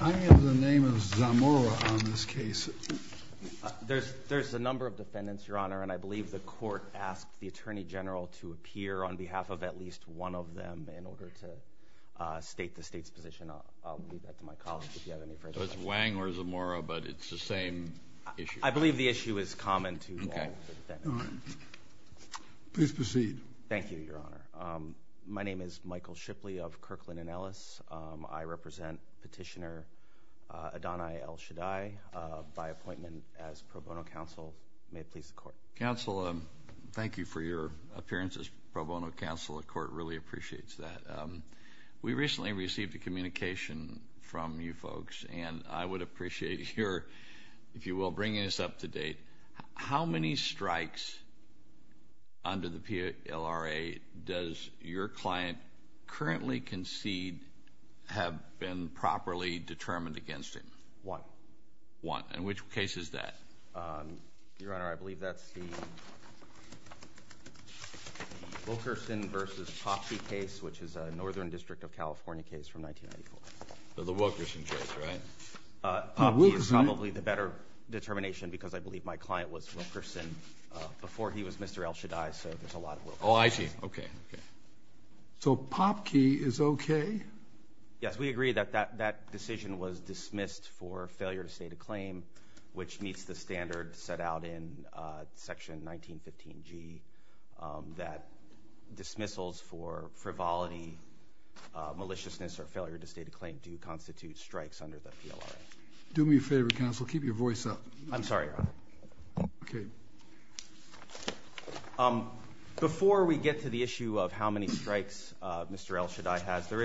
I have the name of Zamora on this case. There's a number of defendants, Your Honor, and I believe the court asked the Attorney General to appear on behalf of at least one of them in order to state the state's position. I'll leave that to my colleagues if you have any further questions. So it's Wang or Zamora, but it's the same issue? I believe the issue is common to all of the defendants. Please proceed. Thank you, Your Honor. My name is Michael Shipley of Kirkland & Ellis. I represent Petitioner Adonai El-Shaddai by appointment as pro bono counsel. May it please the Court. Counsel, thank you for your appearance as pro bono counsel. The Court really appreciates that. We recently received a communication from you folks, and I would appreciate your, if it's up to date, how many strikes under the PLRA does your client currently concede have been properly determined against him? One. One. And which case is that? Your Honor, I believe that's the Wilkerson v. Popke case, which is a Northern District of California case from 1994. The Wilkerson case, right? Popke is probably the better determination because I believe my client was Wilkerson before he was Mr. El-Shaddai, so there's a lot of Wilkerson. Oh, I see. Okay. Okay. So Popke is okay? Yes. We agree that that decision was dismissed for failure to state a claim, which meets the standard set out in Section 1915G, that dismissals for frivolity, maliciousness or failure to state a claim do constitute strikes under the PLRA. Do me a favor, counsel. Keep your voice up. I'm sorry, Your Honor. Okay. Before we get to the issue of how many strikes Mr. El-Shaddai has, there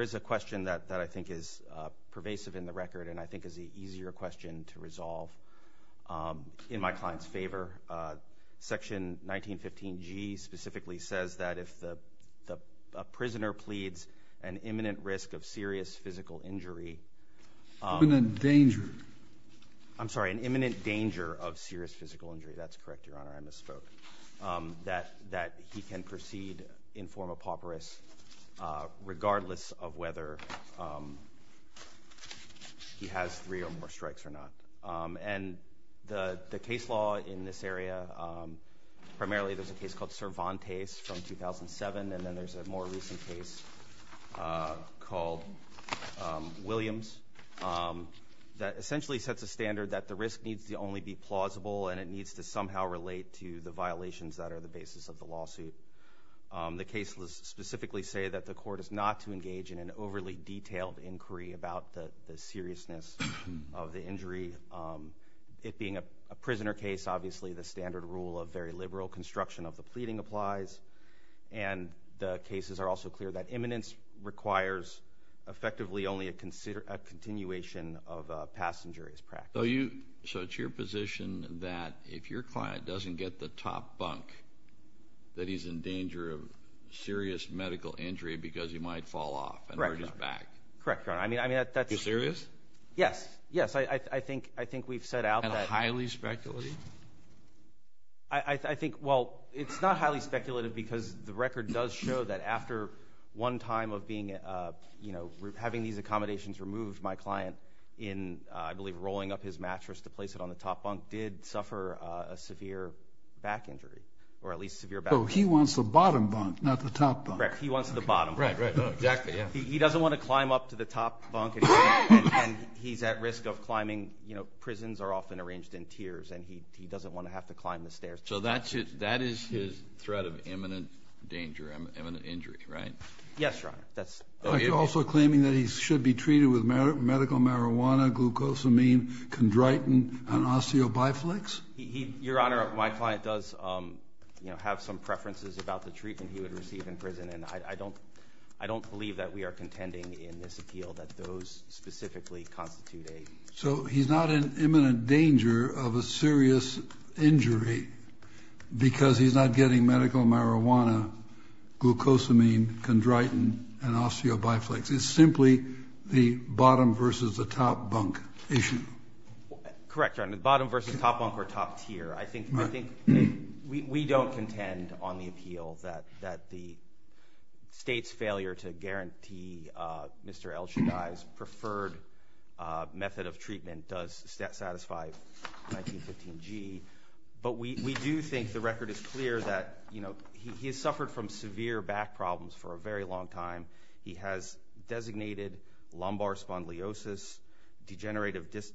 is a question that I think is pervasive in the record, and I think is the easier question to resolve in my client's favor. Section 1915G specifically says that if a prisoner pleads an imminent risk of serious physical injury… Imminent danger. I'm sorry, an imminent danger of serious physical injury. That's correct, Your Honor. I misspoke. That he can proceed in form of pauperous regardless of whether he has three or more strikes or not. And the case law in this area, primarily there's a case called Cervantes from 2007, and then there's a more recent case called Williams that essentially sets a standard that the risk needs to only be plausible and it needs to somehow relate to the violations that are the basis of the lawsuit. The case specifically say that the court is not to engage in an overly detailed inquiry about the seriousness of the injury. It being a prisoner case, obviously the standard rule of very liberal construction of the pleading applies and the cases are also clear that imminence requires effectively only a continuation of a past injurious practice. So it's your position that if your client doesn't get the top bunk, that he's in danger of serious medical injury because he might fall off and hurt his back. Correct, Your Honor. I mean, that's... Serious? Yes. Yes. I think we've set out that... At a highly speculative? I think, well, it's not highly speculative because the record does show that after one time of being, you know, having these accommodations removed, my client in, I believe, rolling up his mattress to place it on the top bunk did suffer a severe back injury or at least severe back injury. So he wants the bottom bunk, not the top bunk. Correct. He wants the bottom bunk. Right, right. Exactly, yeah. He doesn't want to climb up to the top bunk and he's at risk of climbing, you know, prisons are often arranged in tiers and he doesn't want to have to climb the stairs. So that is his threat of imminent danger, imminent injury, right? Yes, Your Honor. That's... Are you also claiming that he should be treated with medical marijuana, glucosamine, chondritin, and osteobiflix? Your Honor, my client does, you know, have some preferences about the treatment he would believe that we are contending in this appeal that those specifically constitute a... So he's not in imminent danger of a serious injury because he's not getting medical marijuana, glucosamine, chondritin, and osteobiflix. It's simply the bottom versus the top bunk issue. Correct, Your Honor. The bottom versus the top bunk or top tier. I think we don't contend on the appeal that the state's failure to guarantee Mr. Elshadai's preferred method of treatment does satisfy 1915G. But we do think the record is clear that, you know, he has suffered from severe back problems for a very long time. He has designated lumbar spondylosis, degenerative disc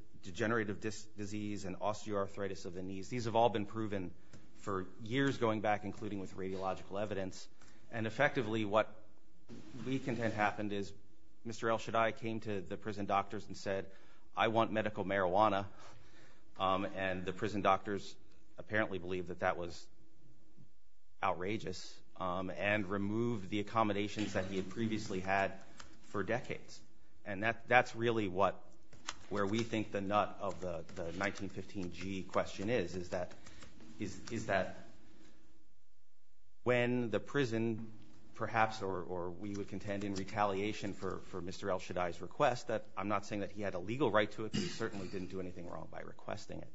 disease, and osteoarthritis of the knees. These have all been proven for years going back, including with radiological evidence. And effectively, what we contend happened is Mr. Elshadai came to the prison doctors and said, I want medical marijuana. And the prison doctors apparently believed that that was outrageous and removed the accommodations that he had previously had for decades. And that's really what, where we think the nut of the 1915G question is, is that when the prison perhaps, or we would contend in retaliation for Mr. Elshadai's request, that I'm not saying that he had a legal right to it, but he certainly didn't do anything wrong by requesting it,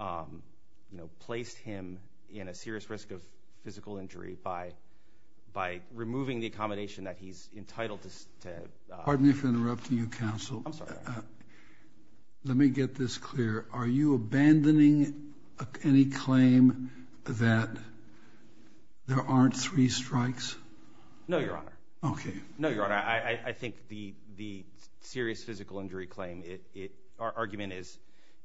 you know, placed him in a serious risk of physical injury by removing the accommodation that he's entitled to. Pardon me for interrupting you, counsel. I'm sorry. Let me get this clear. Are you abandoning any claim that there aren't three strikes? No, your honor. Okay. No, your honor. I think the serious physical injury claim, our argument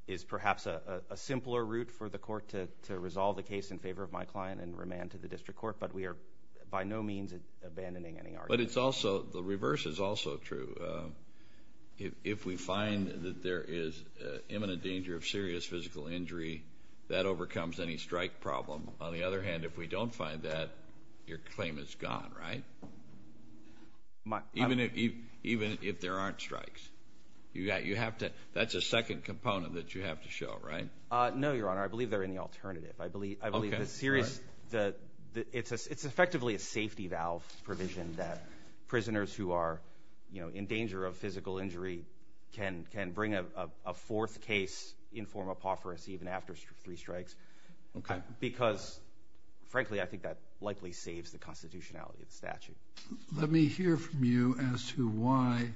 is perhaps a simpler route for the court to resolve the case in favor of my client and remand to the district court. But we are by no means abandoning any argument. But it's also, the reverse is also true. If we find that there is imminent danger of serious physical injury, that overcomes any strike problem. On the other hand, if we don't find that, your claim is gone, right? Even if there aren't strikes. That's a second component that you have to show, right? No, your honor. I believe they're in the alternative. I believe the serious, it's effectively a safety valve provision that prisoners who are in danger of physical injury can bring a fourth case in form of apophoris even after three strikes. Okay. Because frankly, I think that likely saves the constitutionality of the statute. Let me hear from you as to why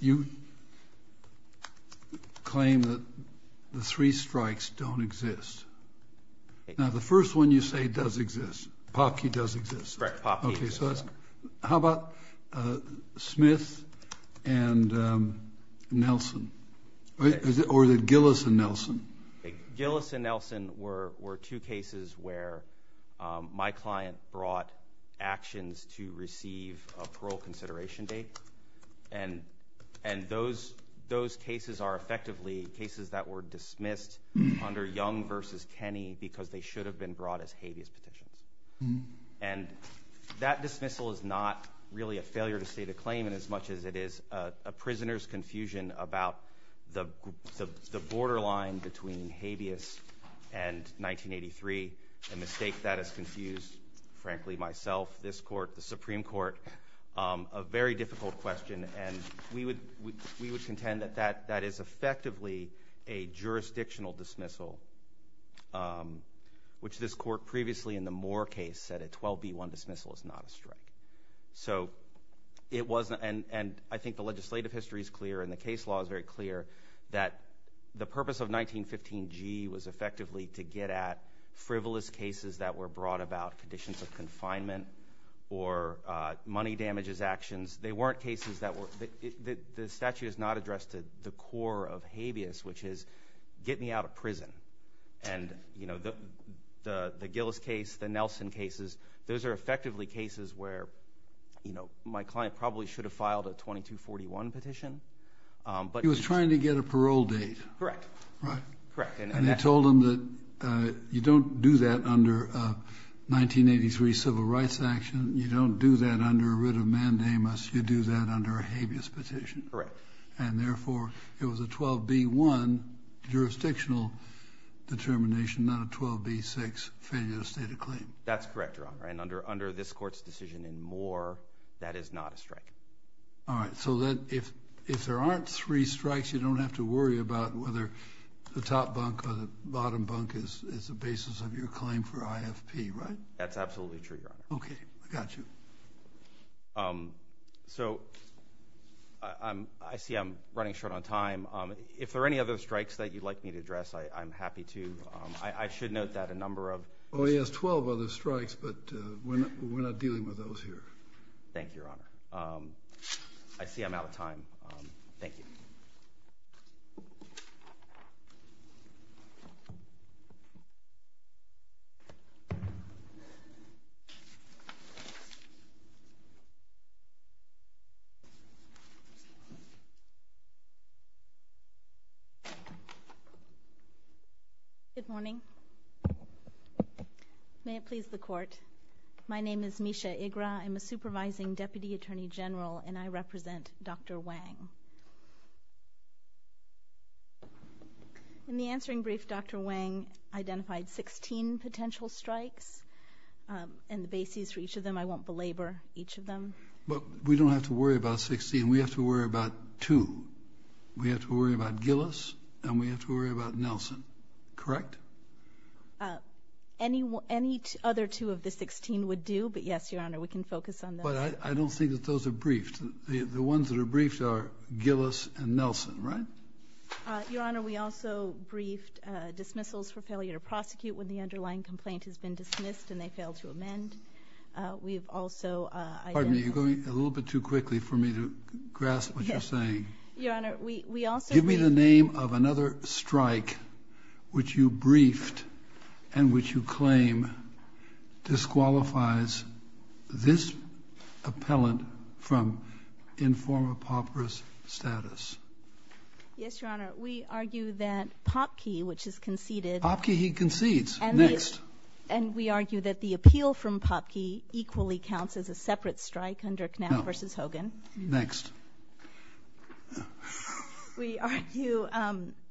you claim that the three strikes don't exist. Now, the first one you say does exist. Popkey does exist. Correct. Popkey does exist. Okay. Or the Gillis and Nelson? Gillis and Nelson were two cases where my client brought actions to receive a parole consideration date. And those cases are effectively cases that were dismissed under Young versus Kenney because they should have been brought as habeas petitions. And that dismissal is not really a failure to state a claim in as much as it is a prisoner's line between habeas and 1983, a mistake that has confused, frankly, myself, this court, the Supreme Court, a very difficult question. And we would contend that that is effectively a jurisdictional dismissal, which this court previously in the Moore case said a 12B1 dismissal is not a strike. So it wasn't, and I think the legislative history is clear and the case law is very of 1915G was effectively to get at frivolous cases that were brought about conditions of confinement or money damages actions. They weren't cases that were, the statute is not addressed to the core of habeas, which is get me out of prison. And you know, the Gillis case, the Nelson cases, those are effectively cases where, you know, my client probably should have filed a 2241 petition. But he was trying to get a parole date. Correct, correct. And they told him that you don't do that under a 1983 civil rights action. You don't do that under a writ of mandamus. You do that under a habeas petition. Correct. And therefore it was a 12B1 jurisdictional determination, not a 12B6 failure to state a claim. That's correct, Your Honor. And under this court's decision in Moore, that is not a strike. All right. So if there aren't three strikes, you don't have to worry about whether the top bunk or the bottom bunk is the basis of your claim for IFP, right? That's absolutely true, Your Honor. OK, I got you. So I see I'm running short on time. If there are any other strikes that you'd like me to address, I'm happy to. I should note that a number of. Oh, he has 12 other strikes, but we're not dealing with those here. Thank you, Your Honor. I see I'm out of time. Thank you. Good morning. May it please the court. My name is Misha Igra. I'm a supervising deputy attorney general, and I represent Dr. Wang. In the answering brief, Dr. Wang identified 16 potential strikes and the bases for each of them. I won't belabor each of them. But we don't have to worry about 16. We have to worry about two. We have to worry about Gillis and we have to worry about Nelson. Correct? Any any other two of the 16 would do. But yes, Your Honor, we can focus on. But I don't think that those are briefed. The ones that are briefed are Gillis and Nelson, right? Your Honor, we also briefed dismissals for failure to prosecute when the underlying complaint has been dismissed and they fail to amend. We've also. Pardon me. You're going a little bit too quickly for me to grasp what you're saying. Your Honor, we also. Give me the name of another strike which you briefed and which you claim disqualifies this appellant from informal pauperous status. Yes, Your Honor. We argue that Popkey, which is conceded. Popkey, he concedes. And next. And we argue that the appeal from Popkey equally counts as a separate strike under Knapp versus Hogan. Next. We argue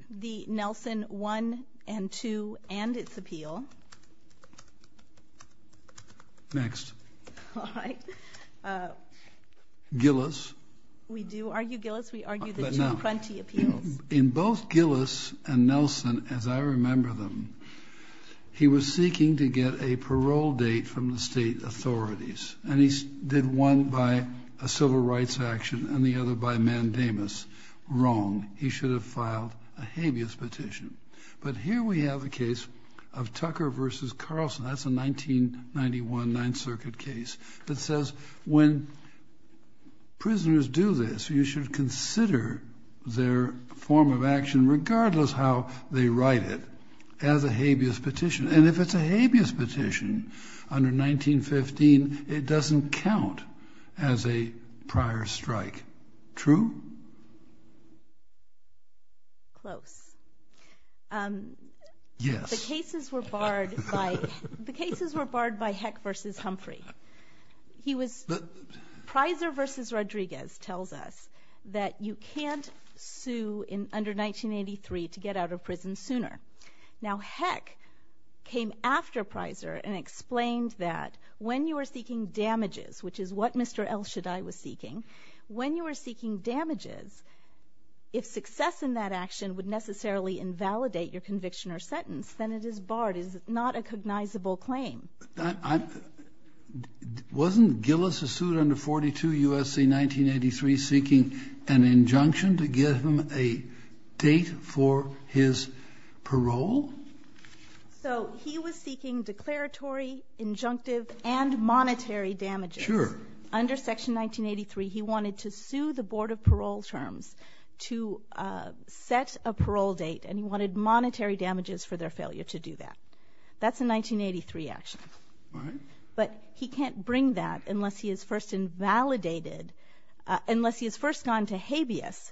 the Nelson one and two and its appeal. Next. All right. Gillis. We do argue Gillis. We argue the two grunty appeals. In both Gillis and Nelson, as I remember them, he was seeking to get a parole date from the state authorities. And he did one by a civil rights action and the other by mandamus. Wrong. He should have filed a habeas petition. But here we have a case of Tucker versus Carlson. That's a 1991 Ninth Circuit case that says when prisoners do this, you should consider their form of action, regardless how they write it, as a habeas petition. And if it's a habeas petition under 1915, it doesn't count as a prior strike. True? Close. Yes. The cases were barred by Heck versus Humphrey. Pryzor versus Rodriguez tells us that you can't sue under 1983 to get out of prison sooner. Now Heck came after Pryzor and explained that when you are seeking damages, which is what Mr. El Shaddai was seeking, when you are seeking damages, if success in that action would necessarily invalidate your conviction or sentence, then it is barred. It is not a cognizable claim. Wasn't Gillis, who sued under 42 U.S.C. 1983, seeking an injunction to give him a date for his parole? So he was seeking declaratory, injunctive, and monetary damages. Sure. Under Section 1983, he wanted to sue the Board of Parole Terms to set a parole date, and he wanted monetary damages for their failure to do that. That's a 1983 action. Right. But he can't bring that unless he is first invalidated, unless he has first gone to habeas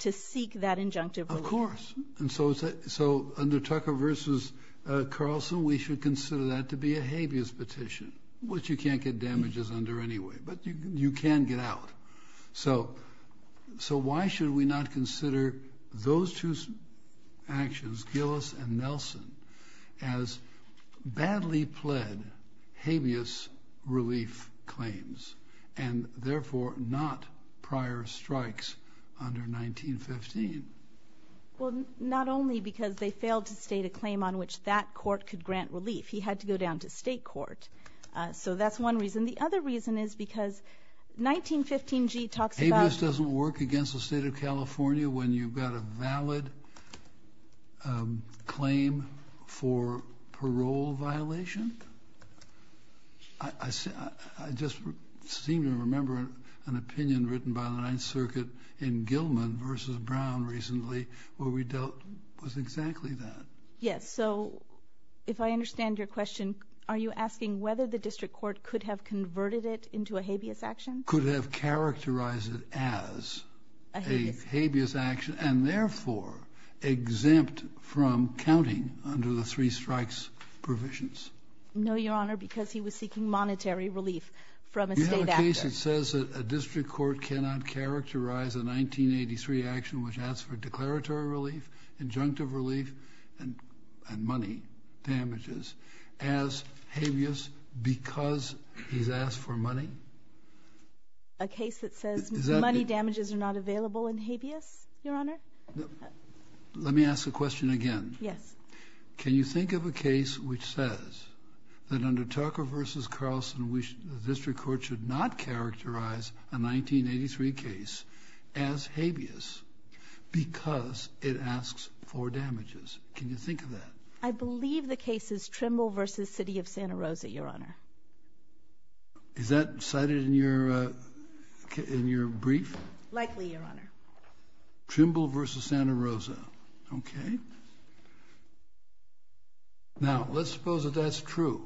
to seek that injunctive relief. Of course. And so under Tucker versus Carlson, we should consider that to be a habeas petition, which you can't get damages under anyway, but you can get out. So why should we not consider those two actions, Gillis and Nelson, as badly pled habeas relief claims and therefore not prior strikes under 1915? Well, not only because they failed to state a claim on which that court could grant relief. He had to go down to state court. So that's one reason. And the other reason is because 1915G talks about Habeas doesn't work against the State of California when you've got a valid claim for parole violation. I just seem to remember an opinion written by the Ninth Circuit in Gilman versus Brown recently where we dealt with exactly that. Yes. So if I understand your question, are you asking whether the district court could have converted it into a habeas action? Could have characterized it as a habeas action and therefore exempt from counting under the three strikes provisions. No, Your Honor, because he was seeking monetary relief from a state actor. You have a case that says a district court cannot characterize a 1983 action which asks for declaratory relief, injunctive relief, and money damages as habeas because he's asked for money? A case that says money damages are not available in habeas, Your Honor? Let me ask the question again. Yes. Can you think of a case which says that under Tucker versus Carlson, the district court should not characterize a 1983 case as habeas because it asks for damages? Can you think of that? I believe the case is Trimble versus City of Santa Rosa, Your Honor. Is that cited in your brief? Likely, Your Honor. Trimble versus Santa Rosa. Okay. Now, let's suppose that that's true,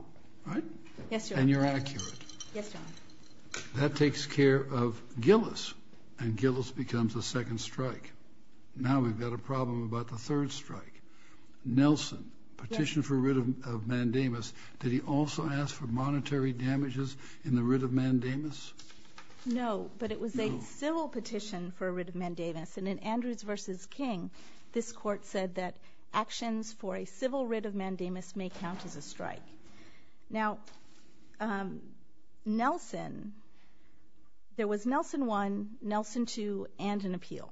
right? Yes, Your Honor. And you're accurate. Yes, Your Honor. That takes care of Gillis, and Gillis becomes a second strike. Now we've got a problem about the third strike. Nelson, petition for writ of mandamus. Did he also ask for monetary damages in the writ of mandamus? No, but it was a civil petition for a writ of mandamus, and in Andrews versus King, this court said that actions for a civil writ of mandamus may count as a strike. Now, Nelson, there was Nelson 1, Nelson 2, and an appeal.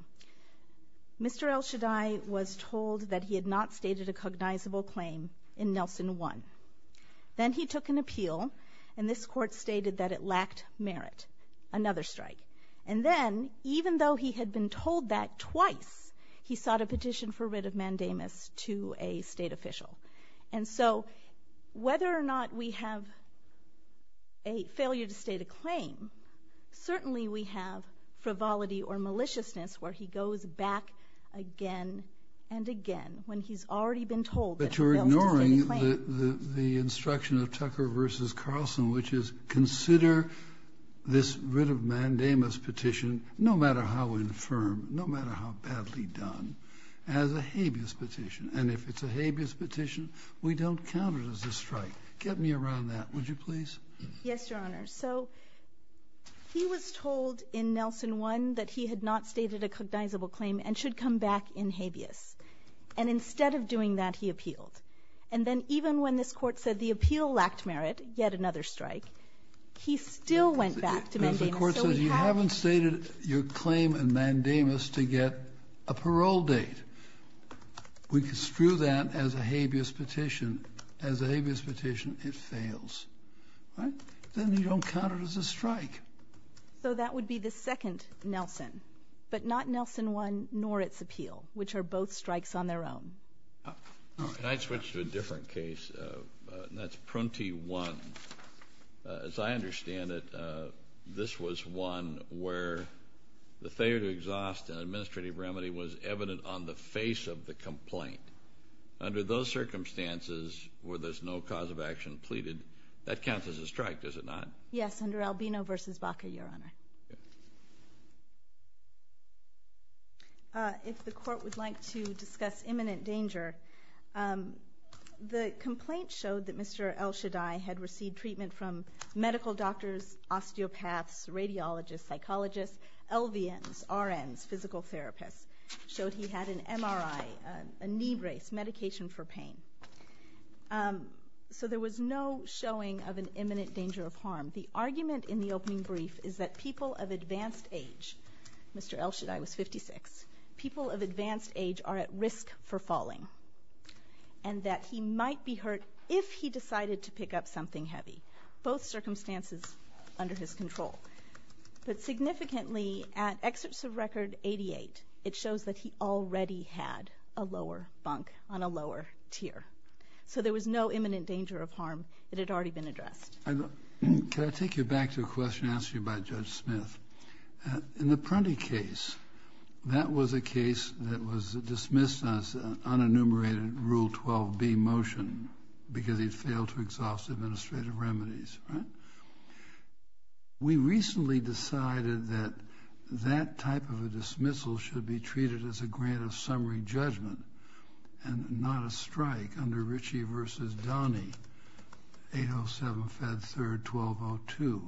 Mr. El Shaddai was told that he had not stated a cognizable claim in Nelson 1. Then he took an appeal, and this court stated that it lacked merit, another strike. And then, even though he had been told that twice, he sought a petition for writ of mandamus to a state official. And so whether or not we have a failure to state a claim, certainly we have frivolity or maliciousness where he goes back again and again when he's already been told that Nelson has stated a claim. But you're ignoring the instruction of Tucker versus Carlson, which is consider this writ of mandamus petition, no matter how infirm, no matter how badly done, as a habeas petition. And if it's a habeas petition, we don't count it as a strike. Get me around that, would you please? Yes, Your Honor. So he was told in Nelson 1 that he had not stated a cognizable claim and should come back in habeas. And instead of doing that, he appealed. And then even when this court said the appeal lacked merit, yet another strike, he still went back to mandamus. The court says you haven't stated your claim in mandamus to get a parole date. We can screw that as a habeas petition. As a habeas petition, it fails. Then you don't count it as a strike. So that would be the second Nelson, but not Nelson 1 nor its appeal, which are both strikes on their own. Can I switch to a different case? That's Prunty 1. As I understand it, this was one where the failure to exhaust an administrative remedy was evident on the face of the complaint. Under those circumstances where there's no cause of action pleaded, that counts as a strike, does it not? Yes, under Albino v. Baca, Your Honor. If the court would like to discuss imminent danger, the complaint showed that Mr. Elshadai had received treatment from medical doctors, osteopaths, radiologists, psychologists, LVNs, RNs, physical therapists. It showed he had an MRI, a knee brace, medication for pain. So there was no showing of an imminent danger of harm. The argument in the opening brief is that people of advanced age, Mr. Elshadai was 56, people of advanced age are at risk for falling and that he might be hurt if he decided to pick up something heavy, both circumstances under his control. But significantly, at excerpts of record 88, it shows that he already had a lower bunk on a lower tier. So there was no imminent danger of harm that had already been addressed. Can I take you back to a question asked to you by Judge Smith? In the Prunty case, that was a case that was dismissed as an unenumerated Rule 12b motion because he failed to exhaust administrative remedies, right? We recently decided that that type of a dismissal should be treated as a grant of summary judgment and not a strike under Ritchie v. Donnie, 807-Fed3-1202.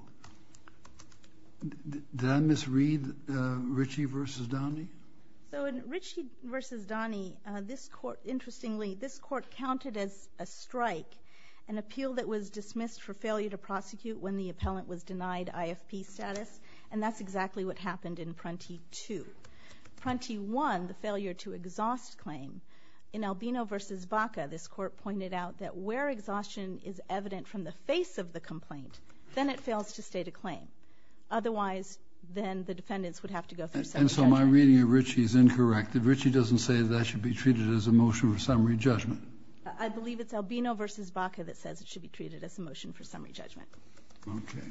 Did I misread Ritchie v. Donnie? So in Ritchie v. Donnie, this court, interestingly, this court counted as a strike, an appeal that was dismissed for failure to prosecute when the appellant was denied IFP status, and that's exactly what happened in Prunty 2. Prunty 1, the failure to exhaust claim, in Albino v. Baca, this court pointed out that where exhaustion is evident from the face of the complaint, then it fails to state a claim. Otherwise, then the defendants would have to go through summary judgment. And so my reading of Ritchie is incorrect. Ritchie doesn't say that that should be treated as a motion for summary judgment. I believe it's Albino v. Baca that says it should be treated as a motion for summary judgment. Okay.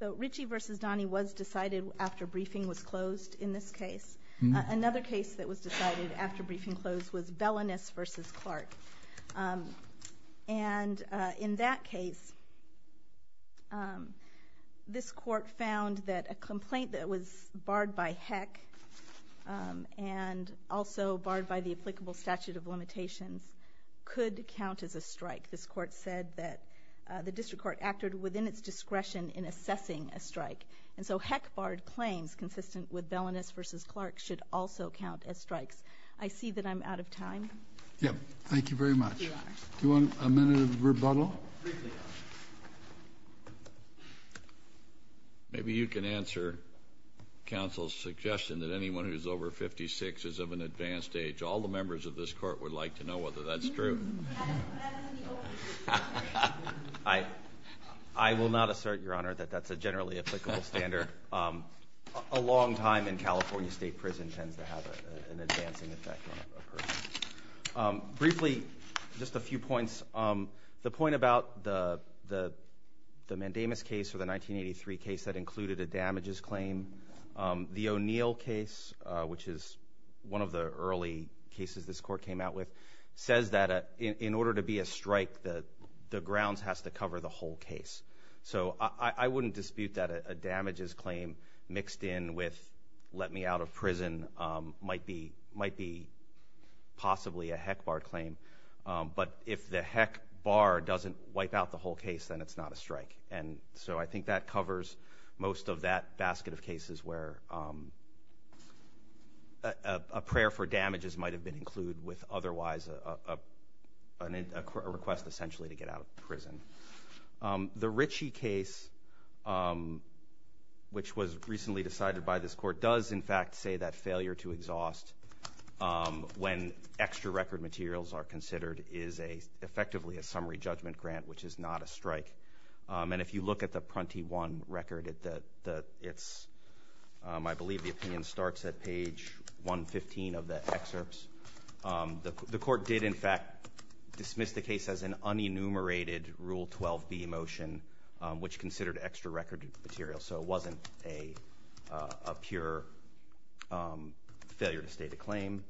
So Ritchie v. Donnie was decided after briefing was closed in this case. Another case that was decided after briefing closed was Bellinus v. Clark. And in that case, this court found that a complaint that was barred by HEC and also barred by the applicable statute of limitations could count as a strike. This court said that the district court acted within its discretion in assessing a strike. And so HEC-barred claims consistent with Bellinus v. Clark should also count as strikes. I see that I'm out of time. Yep. Thank you very much. Do you want a minute of rebuttal? Maybe you can answer counsel's suggestion that anyone who is over 56 is of an advanced age. All the members of this court would like to know whether that's true. I will not assert, Your Honor, that that's a generally applicable standard. A long time in California state prison tends to have an advancing effect on a person. Briefly, just a few points. The point about the Mandamus case or the 1983 case that included a damages claim, the O'Neill case, which is one of the early cases this court came out with, says that in order to be a strike, the grounds has to cover the whole case. So I wouldn't dispute that a damages claim mixed in with let me out of prison might be possibly a HEC-barred claim. But if the HEC-barred doesn't wipe out the whole case, then it's not a strike. And so I think that covers most of that basket of cases where a prayer for damages might have been included with otherwise a request essentially to get out of prison. The Ritchie case, which was recently decided by this court, does in fact say that failure to exhaust when extra record materials are considered is effectively a summary judgment grant, which is not a strike. And if you look at the Prunty 1 record, I believe the opinion starts at page 115 of the excerpts. The court did in fact dismiss the case as an unenumerated Rule 12b motion, which considered extra record materials. So it wasn't a pure failure to state a claim.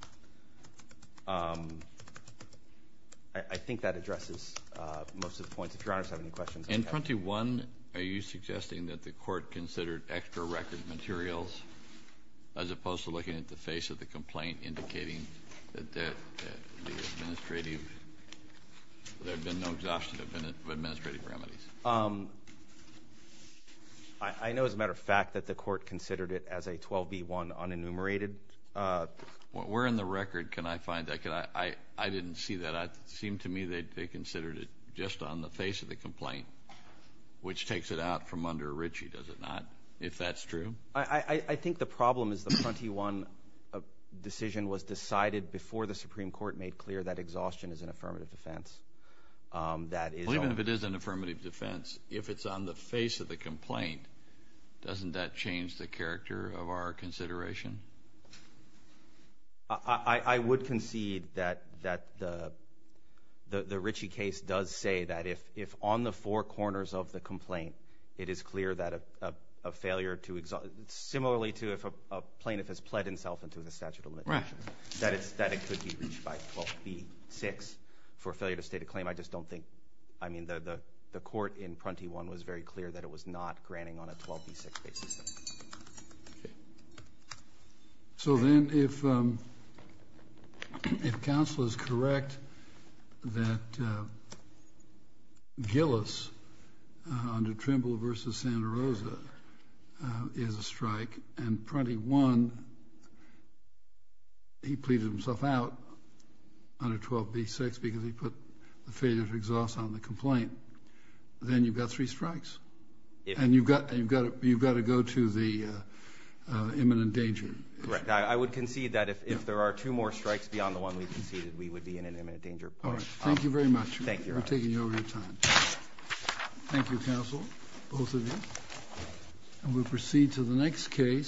I think that addresses most of the points. If Your Honors have any questions. In Prunty 1, are you suggesting that the court considered extra record materials as opposed to looking at the face of the complaint indicating that there had been no exhaustive administrative remedies? I know as a matter of fact that the court considered it as a 12b-1 unenumerated. Where in the record can I find that? I didn't see that. It seemed to me that they considered it just on the face of the complaint, which takes it out from under Ritchie, does it not, if that's true? I think the problem is the Prunty 1 decision was decided before the Supreme Court made clear that exhaustion is an affirmative defense. Even if it is an affirmative defense, if it's on the face of the complaint, doesn't that change the character of our consideration? I would concede that the Ritchie case does say that if on the four corners of the complaint, it is clear that a failure to exhaust, similarly to if a plaintiff has pled himself into the statute of limitations, that it could be reached by 12b-6 for failure to state a claim. I just don't think, I mean, the court in Prunty 1 was very clear that it was not granting on a 12b-6 basis. Okay. So then if counsel is correct that Gillis under Trimble v. Santa Rosa is a strike and Prunty 1, he pleaded himself out under 12b-6 because he put the failure to exhaust on the complaint, then you've got three strikes. And you've got to go to the imminent danger. Correct. I would concede that if there are two more strikes beyond the one we conceded, we would be in an imminent danger. All right. Thank you very much. Thank you, Your Honor. We're taking over your time. Thank you, counsel, both of you. And we'll proceed to the next case.